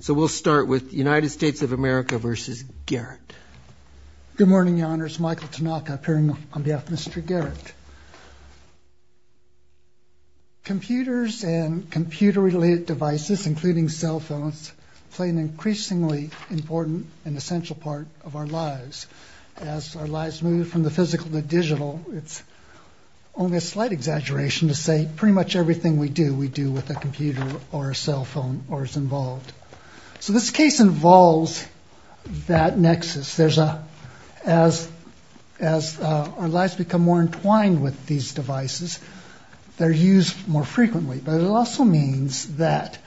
So we'll start with United States of America v. Garrett. Good morning, Your Honors. Michael Tanaka appearing on behalf of Mr. Garrett. Computers and computer-related devices, including cell phones, play an increasingly important and essential part of our lives. As our lives move from the physical to the digital, it's only a slight exaggeration to say pretty much everything we do, we do with a computer or a cell phone or is involved. So this case involves that nexus. As our lives become more entwined with these devices, they're used more frequently. But it also means that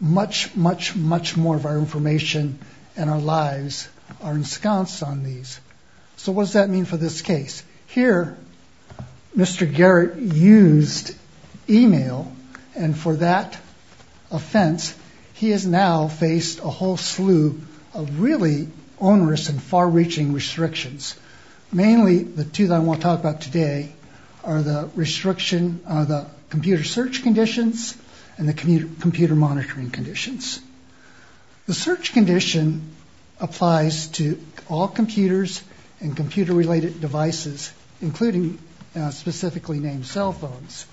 much, much, much more of our information and our lives are ensconced on these. So what does that mean for this case? Here, Mr. Garrett used e-mail, and for that offense, he has now faced a whole slew of really onerous and far-reaching restrictions. Mainly the two that I want to talk about today are the computer search conditions and the computer monitoring conditions. The search condition applies to all computers and computer-related devices, including specifically named cell phones.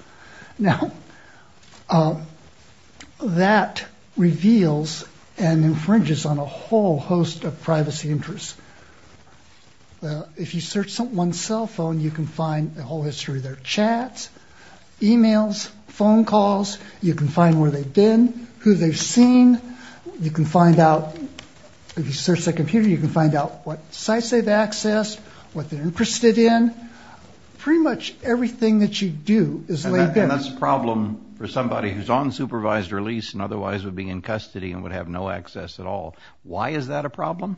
Now, that reveals and infringes on a whole host of privacy interests. If you search someone's cell phone, you can find the whole history of their chats, e-mails, phone calls. You can find where they've been, who they've seen. You can find out, if you search their computer, you can find out what sites they've accessed, what they're interested in. Pretty much everything that you do is laid bare. And that's a problem for somebody who's on supervised release and otherwise would be in custody and would have no access at all. Why is that a problem?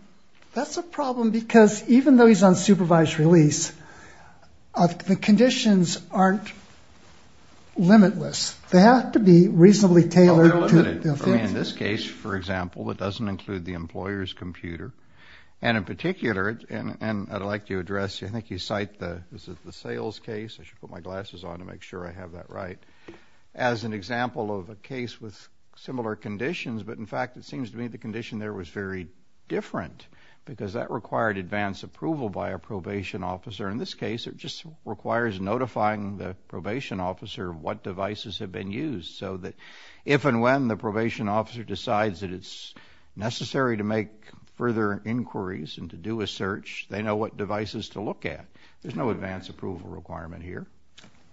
That's a problem because even though he's on supervised release, the conditions aren't limitless. They have to be reasonably tailored. Well, they're limited. I mean, in this case, for example, it doesn't include the employer's computer. And in particular, and I'd like to address, I think you cite the sales case. I should put my glasses on to make sure I have that right. As an example of a case with similar conditions, but in fact it seems to me the condition there was very different because that required advance approval by a probation officer. In this case, it just requires notifying the probation officer what devices have been used so that if and when the probation officer decides that it's necessary to make further inquiries and to do a search, they know what devices to look at. There's no advance approval requirement here.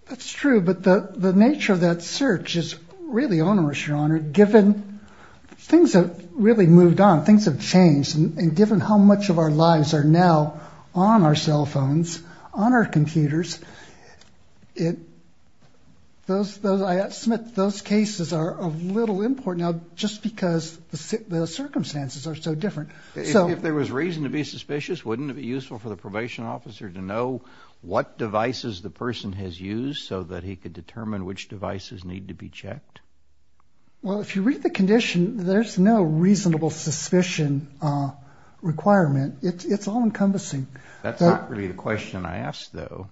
That's true, but the nature of that search is really onerous, Your Honor, given things have really moved on, things have changed, and given how much of our lives are now on our cell phones, on our computers, those cases are of little import now just because the circumstances are so different. If there was reason to be suspicious, wouldn't it be useful for the probation officer to know what devices the person has used so that he could determine which devices need to be checked? Well, if you read the condition, there's no reasonable suspicion requirement. It's all-encompassing. That's not really the question I asked, though.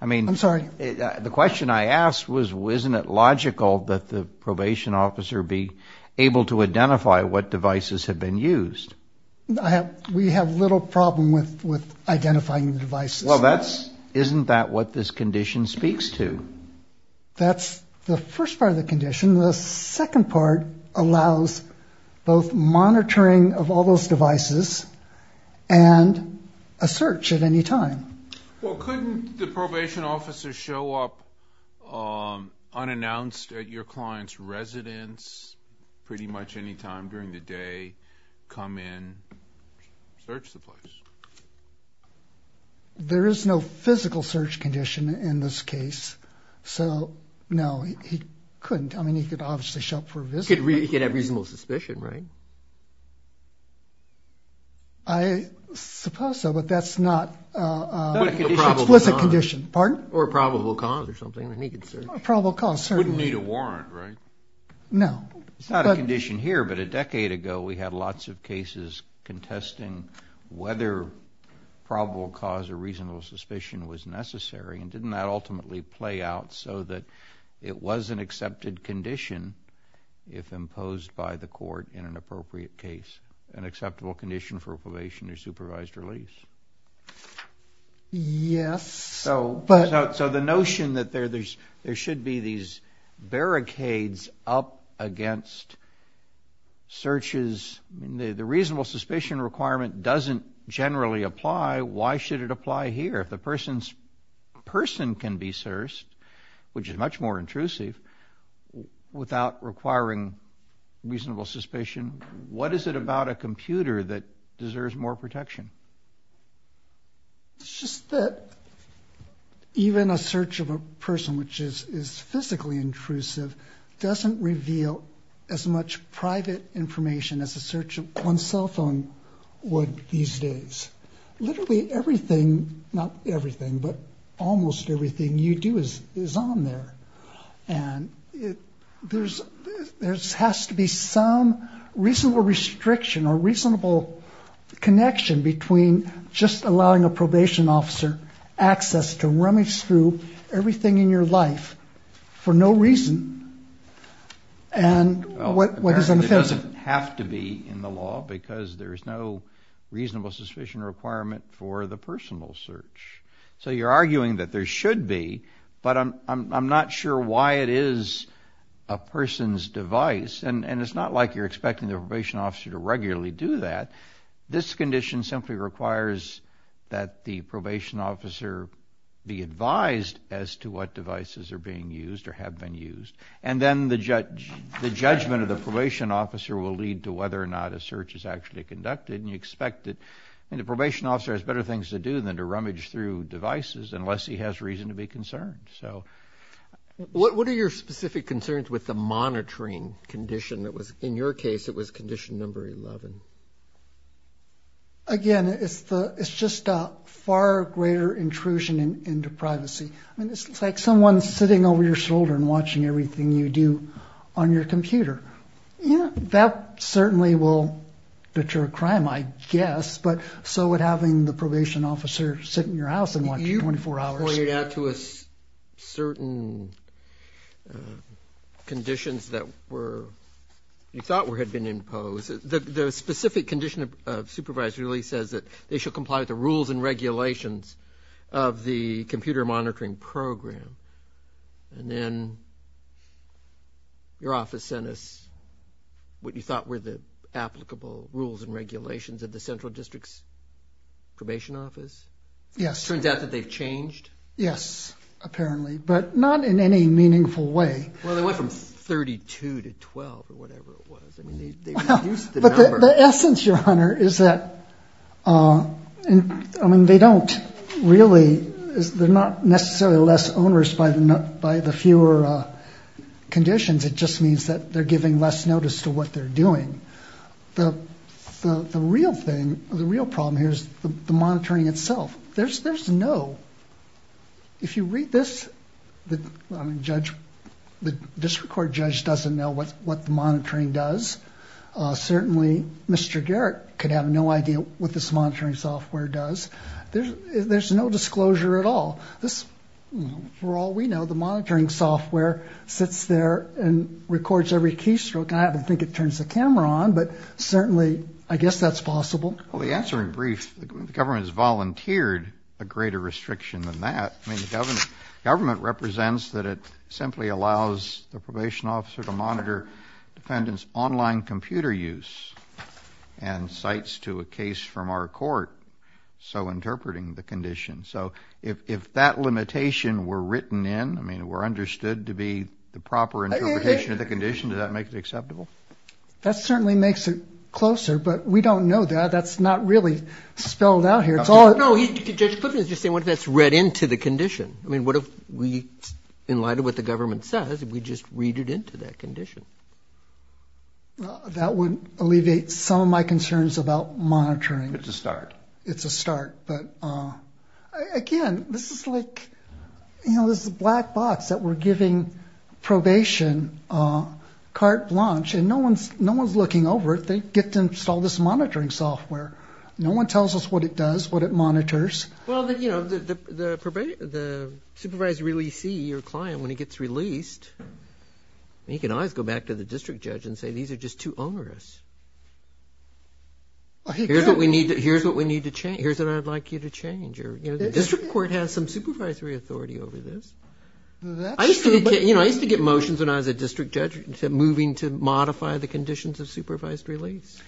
I'm sorry. The question I asked was, isn't it logical that the probation officer be able to identify what devices have been used? We have little problem with identifying the devices. Well, isn't that what this condition speaks to? That's the first part of the condition. The second part allows both monitoring of all those devices and a search at any time. Well, couldn't the probation officer show up unannounced at your client's residence pretty much any time during the day, come in, search the place? There is no physical search condition in this case. So, no, he couldn't. I mean, he could obviously show up for a visit. He could have reasonable suspicion, right? I suppose so, but that's not an explicit condition. Or a probable cause or something. A probable cause, certainly. He wouldn't need a warrant, right? No. It's not a condition here, but a decade ago we had lots of cases contesting whether probable cause or reasonable suspicion was necessary, and didn't that ultimately play out so that it was an accepted condition if imposed by the court in an appropriate case, an acceptable condition for probation or supervised release? Yes. So the notion that there should be these barricades up against searches, the reasonable suspicion requirement doesn't generally apply. Why should it apply here? If the person can be searched, which is much more intrusive, without requiring reasonable suspicion, what is it about a computer that deserves more protection? It's just that even a search of a person which is physically intrusive doesn't reveal as much private information as a search on one's cell phone would these days. Literally everything, not everything, but almost everything you do is on there, and there has to be some reasonable restriction or reasonable connection between just allowing a probation officer access to rummage through everything in your life for no reason, and what is unoffensive. It doesn't have to be in the law because there is no reasonable suspicion requirement for the personal search. So you're arguing that there should be, but I'm not sure why it is a person's device, and it's not like you're expecting the probation officer to regularly do that. This condition simply requires that the probation officer be advised as to what devices are being used or have been used, and then the judgment of the probation officer will lead to whether or not a search is actually conducted, and you expect that the probation officer has better things to do than to rummage through devices unless he has reason to be concerned. What are your specific concerns with the monitoring condition? In your case, it was condition number 11. Again, it's just a far greater intrusion into privacy. It's like someone sitting over your shoulder and watching everything you do on your computer. That certainly will deter a crime, I guess, but so would having the probation officer sit in your house and watch you 24 hours. You pointed out to us certain conditions that you thought had been imposed. The specific condition of supervisor really says that they should comply with the rules and regulations of the computer monitoring program, and then your office sent us what you thought were the applicable rules and regulations of the central district's probation office. Yes. It turns out that they've changed? Yes, apparently, but not in any meaningful way. Well, they went from 32 to 12 or whatever it was. I mean, they've reduced the number. But the essence, Your Honor, is that, I mean, they don't really, they're not necessarily less onerous by the fewer conditions. It just means that they're giving less notice to what they're doing. The real thing, the real problem here is the monitoring itself. There's no, if you read this, I mean, the district court judge doesn't know what the monitoring does. Certainly Mr. Garrett could have no idea what this monitoring software does. There's no disclosure at all. For all we know, the monitoring software sits there and records every keystroke, and I don't think it turns the camera on, but certainly I guess that's possible. Well, to answer in brief, the government has volunteered a greater restriction than that. I mean, the government represents that it simply allows the probation officer to monitor defendants' online computer use and cites to a case from our court so interpreting the condition. So if that limitation were written in, I mean, were understood to be the proper interpretation of the condition, does that make it acceptable? That certainly makes it closer, but we don't know that. That's not really spelled out here. No, Judge Clifford is just saying what if that's read into the condition. I mean, what if we, in light of what the government says, if we just read it into that condition? That would alleviate some of my concerns about monitoring. It's a start. It's a start, but again, this is like, you know, this is a black box that we're giving probation carte blanche, and no one's looking over it. They get to install this monitoring software. No one tells us what it does, what it monitors. Well, you know, the supervisor really sees your client when he gets released. He can always go back to the district judge and say these are just too onerous. Here's what we need to change. Here's what I'd like you to change. The district court has some supervisory authority over this. I used to get motions when I was a district judge moving to modify the conditions of supervised release.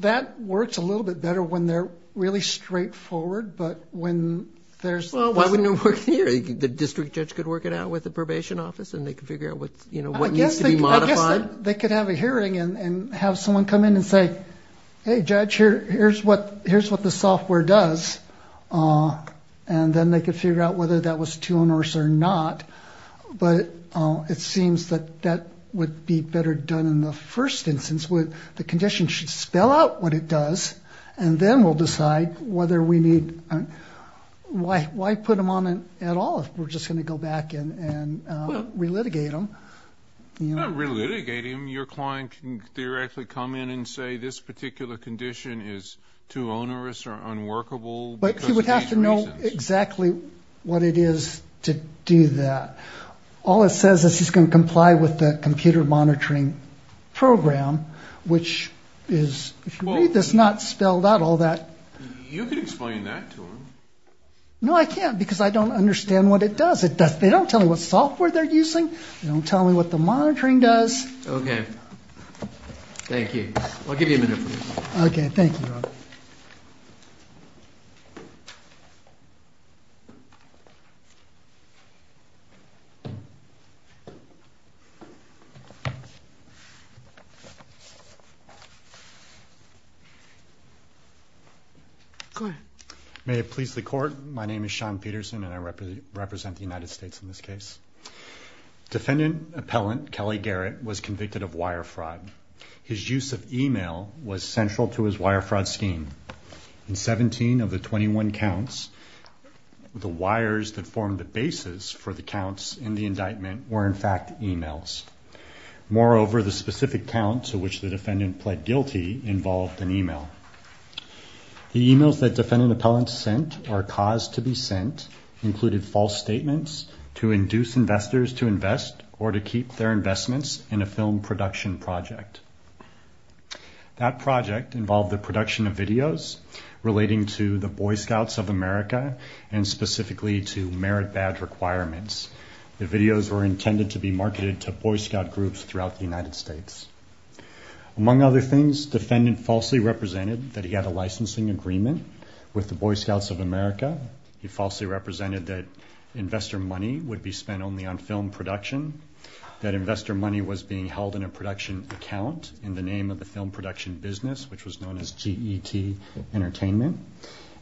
That works a little bit better when they're really straightforward, but when there's – Well, why wouldn't it work here? The district judge could work it out with the probation office, and they could figure out what needs to be modified. I guess they could have a hearing and have someone come in and say, hey, judge, here's what the software does, and then they could figure out whether that was too onerous or not. But it seems that that would be better done in the first instance. The condition should spell out what it does, and then we'll decide whether we need – why put them on at all if we're just going to go back and relitigate them? Not relitigate them. Your client can theoretically come in and say this particular condition is too onerous or unworkable. But he would have to know exactly what it is to do that. All it says is he's going to comply with the computer monitoring program, which is, if you read this, not spelled out all that. You could explain that to him. No, I can't, because I don't understand what it does. They don't tell me what software they're using. They don't tell me what the monitoring does. Okay. Thank you. I'll give you a minute. Okay, thank you. Go ahead. May it please the Court, my name is Sean Peterson, and I represent the United States in this case. Defendant appellant Kelly Garrett was convicted of wire fraud. His use of email was central to his wire fraud scheme. In 17 of the 21 counts, the wires that formed the basis for the counts in the indictment were, in fact, emails. Moreover, the specific count to which the defendant pled guilty involved an email. The emails that defendant appellants sent or caused to be sent included false statements to induce investors to invest or to keep their investments in a film production project. That project involved the production of videos relating to the Boy Scouts of America and specifically to merit badge requirements. The videos were intended to be marketed to Boy Scout groups throughout the United States. Among other things, defendant falsely represented that he had a licensing agreement with the Boy Scouts of America. He falsely represented that investor money would be spent only on film production, that investor money was being held in a production account in the name of the film production business, which was known as G.E.T. Entertainment,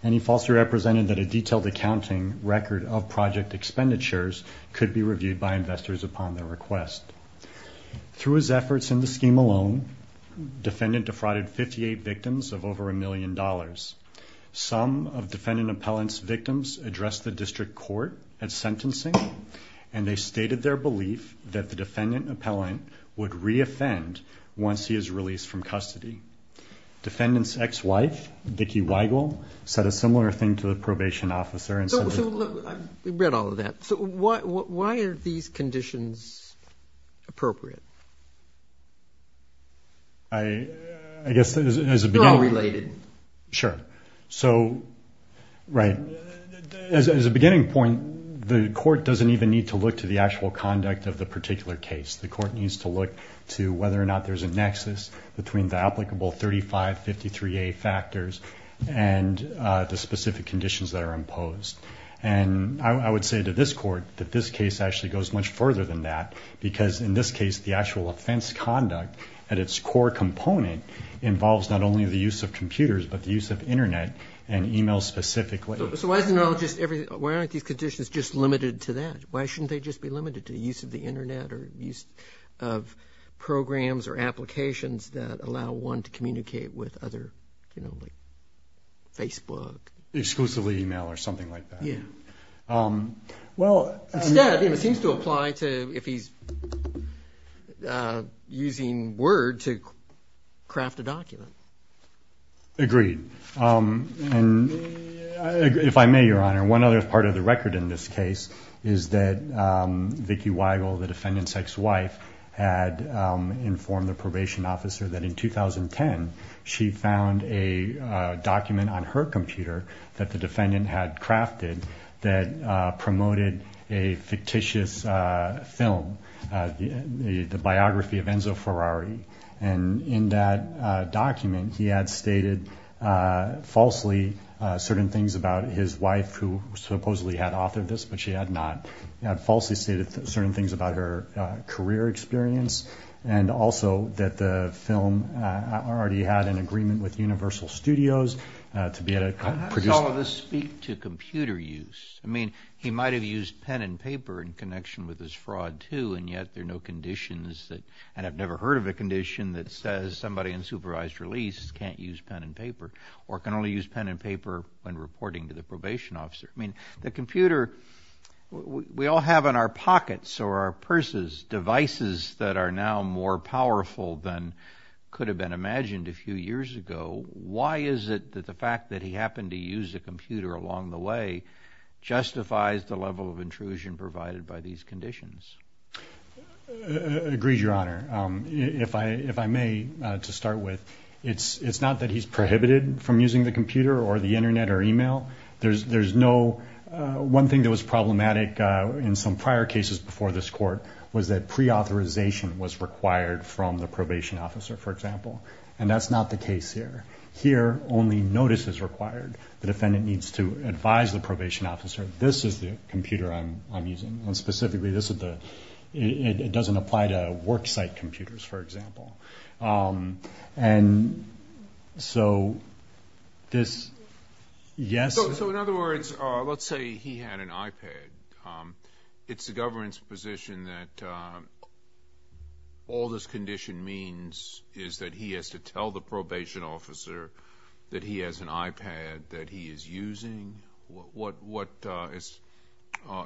and he falsely represented that a detailed accounting record of project expenditures could be reviewed by investors upon their request. Through his efforts in the scheme alone, defendant defrauded 58 victims of over a million dollars. Some of defendant appellants' victims addressed the district court at sentencing, and they stated their belief that the defendant appellant would reoffend once he is released from custody. Defendant's ex-wife, Vicki Weigel, said a similar thing to the probation officer and said... Well, we've read all of that. So why are these conditions appropriate? I guess as a beginning... They're all related. Sure. So, right, as a beginning point, the court doesn't even need to look to the actual conduct of the particular case. The court needs to look to whether or not there's a nexus between the applicable 3553A factors and the specific conditions that are imposed. And I would say to this court that this case actually goes much further than that because in this case the actual offense conduct at its core component involves not only the use of computers but the use of Internet and e-mail specifically. So why isn't it all just everything? Why aren't these conditions just limited to that? Why shouldn't they just be limited to the use of the Internet or use of programs or applications that allow one to communicate with other, you know, like Facebook. Exclusively e-mail or something like that. Yeah. Well... Instead, it seems to apply to if he's using Word to craft a document. Agreed. If I may, Your Honor, one other part of the record in this case is that Vicki Weigel, the defendant's ex-wife, had informed the probation officer that in 2010 she found a document on her computer that the defendant had crafted that promoted a fictitious film, the biography of Enzo Ferrari. And in that document he had stated falsely certain things about his wife, who supposedly had authored this but she had not, had falsely stated certain things about her career experience and also that the film already had an agreement with Universal Studios to be produced... How does all of this speak to computer use? I mean, he might have used pen and paper in connection with his fraud too and yet there are no conditions that, and I've never heard of a condition that says somebody in supervised release can't use pen and paper or can only use pen and paper when reporting to the probation officer. I mean, the computer, we all have in our pockets or our purses devices that are now more powerful than could have been imagined a few years ago. Why is it that the fact that he happened to use a computer along the way justifies the level of intrusion provided by these conditions? Agreed, Your Honor. If I may, to start with, it's not that he's prohibited from using the computer or the Internet or email. There's no, one thing that was problematic in some prior cases before this court was that pre-authorization was required from the probation officer, for example, and that's not the case here. Here, only notice is required. The defendant needs to advise the probation officer, this is the computer I'm using, and specifically this is the, it doesn't apply to worksite computers, for example. And so this, yes? So in other words, let's say he had an iPad. It's the government's position that all this condition means is that he has to tell the probation officer that he has an iPad that he is using. What is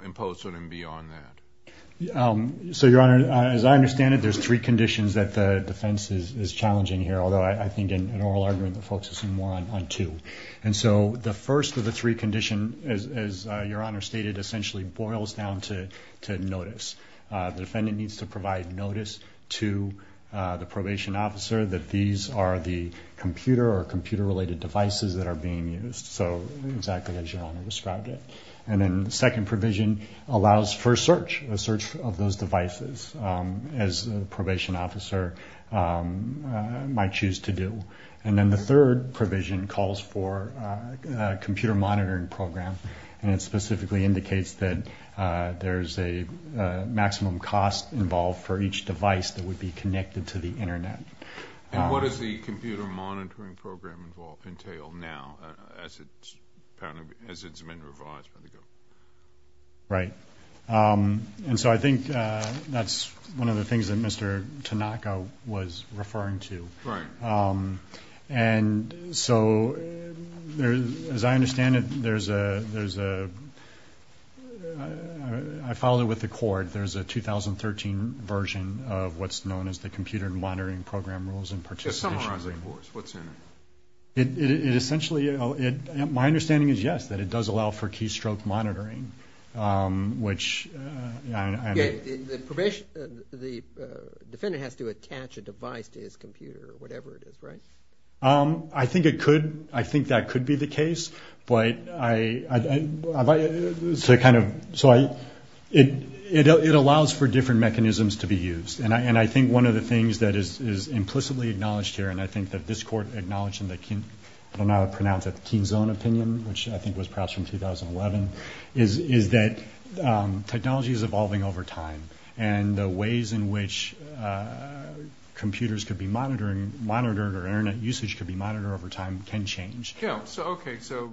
imposed on him beyond that? So, Your Honor, as I understand it, there's three conditions that the defense is challenging here, although I think in an oral argument the folks assume more on two. And so the first of the three conditions, as Your Honor stated, essentially boils down to notice. The defendant needs to provide notice to the probation officer that these are the computer or computer-related devices that are being used. So exactly as Your Honor described it. And then the second provision allows for search, a search of those devices as the probation officer might choose to do. And then the third provision calls for a computer monitoring program, and it specifically indicates that there's a maximum cost involved for each device that would be connected to the Internet. And what does the computer monitoring program entail now, as it's been revised by the government? Right. And so I think that's one of the things that Mr. Tanaka was referring to. Right. And so, as I understand it, there's a – I followed it with the court. There's a 2013 version of what's known as the computer monitoring program rules and participation. Just summarize it, of course. What's in it? It essentially – my understanding is, yes, that it does allow for keystroke monitoring, which – Okay. The defendant has to attach a device to his computer or whatever it is, right? I think it could. I think that could be the case, but I – so it kind of – so it allows for different mechanisms to be used. And I think one of the things that is implicitly acknowledged here, and I think that this Court acknowledged in the – I don't know how to pronounce it – the Keen's own opinion, which I think was perhaps from 2011, is that technology is evolving over time, and the ways in which computers could be monitored or Internet usage could be monitored over time can change. Yeah, okay, so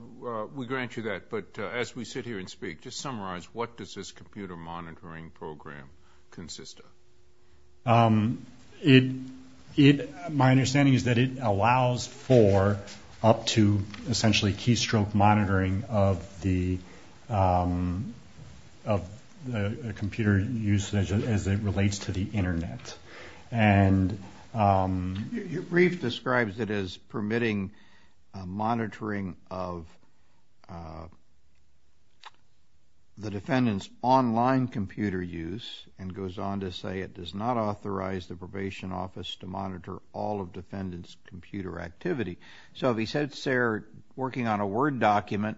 we grant you that. But as we sit here and speak, just summarize, what does this computer monitoring program consist of? It – my understanding is that it allows for up to essentially keystroke monitoring of the computer usage as it relates to the Internet. And – Reif describes it as permitting monitoring of the defendant's online computer use and goes on to say it does not authorize the probation office to monitor all of defendant's computer activity. So if he sits there working on a Word document,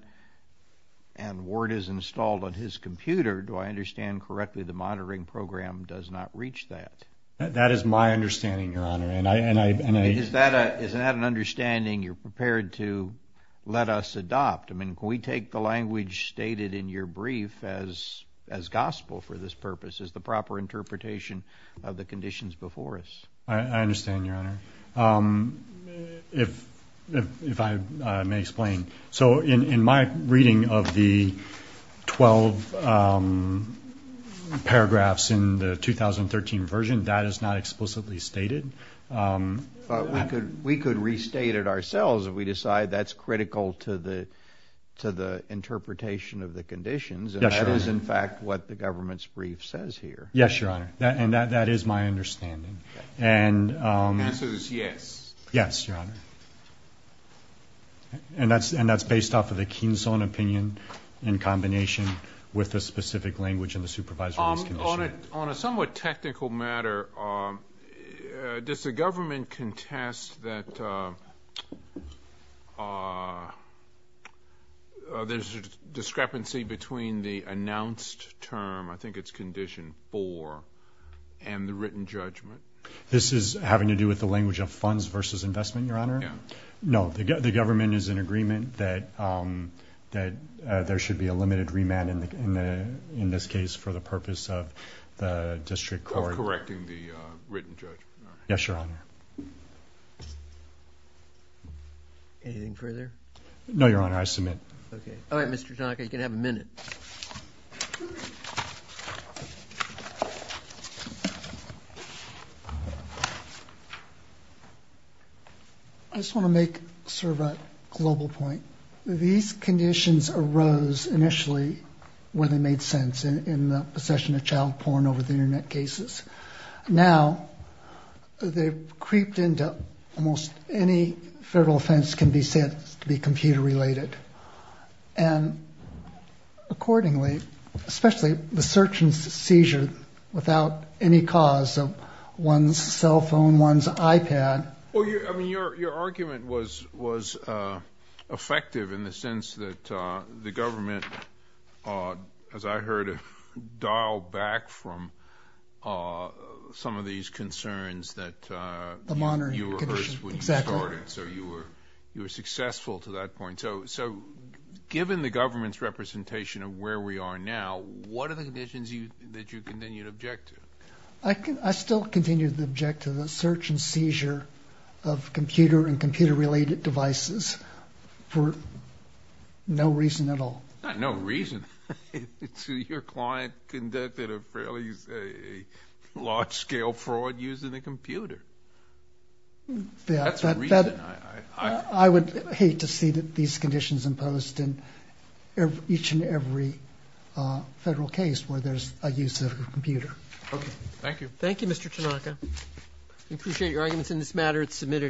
and Word is installed on his computer, do I understand correctly the monitoring program does not reach that? That is my understanding, Your Honor, and I – Is that an understanding you're prepared to let us adopt? I mean, can we take the language stated in your brief as gospel for this purpose? Is the proper interpretation of the conditions before us? I understand, Your Honor. If I may explain. So in my reading of the 12 paragraphs in the 2013 version, that is not explicitly stated. We could restate it ourselves if we decide that's critical to the interpretation of the conditions. Yes, Your Honor. And that is, in fact, what the government's brief says here. Yes, Your Honor. And that is my understanding. And the answer is yes. Yes, Your Honor. And that's based off of the Keen's own opinion in combination with the specific language in the supervisory's condition. On a somewhat technical matter, does the government contest that there's a discrepancy between the announced term, I think it's condition four, and the written judgment? This is having to do with the language of funds versus investment, Your Honor? Yeah. No, the government is in agreement that there should be a limited remand in this case for the purpose of the district court. Correcting the written judgment. Yes, Your Honor. Anything further? No, Your Honor. I submit. Okay. All right, Mr. Tanaka, you can have a minute. I just want to make sort of a global point. These conditions arose initially when they made sense in the possession of child porn over the Internet cases. Now they've creeped into almost any federal offense can be said to be computer related. And accordingly, especially the search and seizure without any cause of one's cell phone, one's iPad. Well, I mean, your argument was effective in the sense that the government, as I heard it, dialed back from some of these concerns that you were hurt when you started. So you were successful to that point. So given the government's representation of where we are now, what are the conditions that you continue to object to? I still continue to object to the search and seizure of computer and computer related devices for no reason at all. Not no reason. Your client conducted a fairly large scale fraud using a computer. That's a reason. I would hate to see these conditions imposed in each and every federal case where there's a use of a computer. Okay. Thank you. Thank you, Mr. Tanaka. We appreciate your arguments in this matter. It's submitted.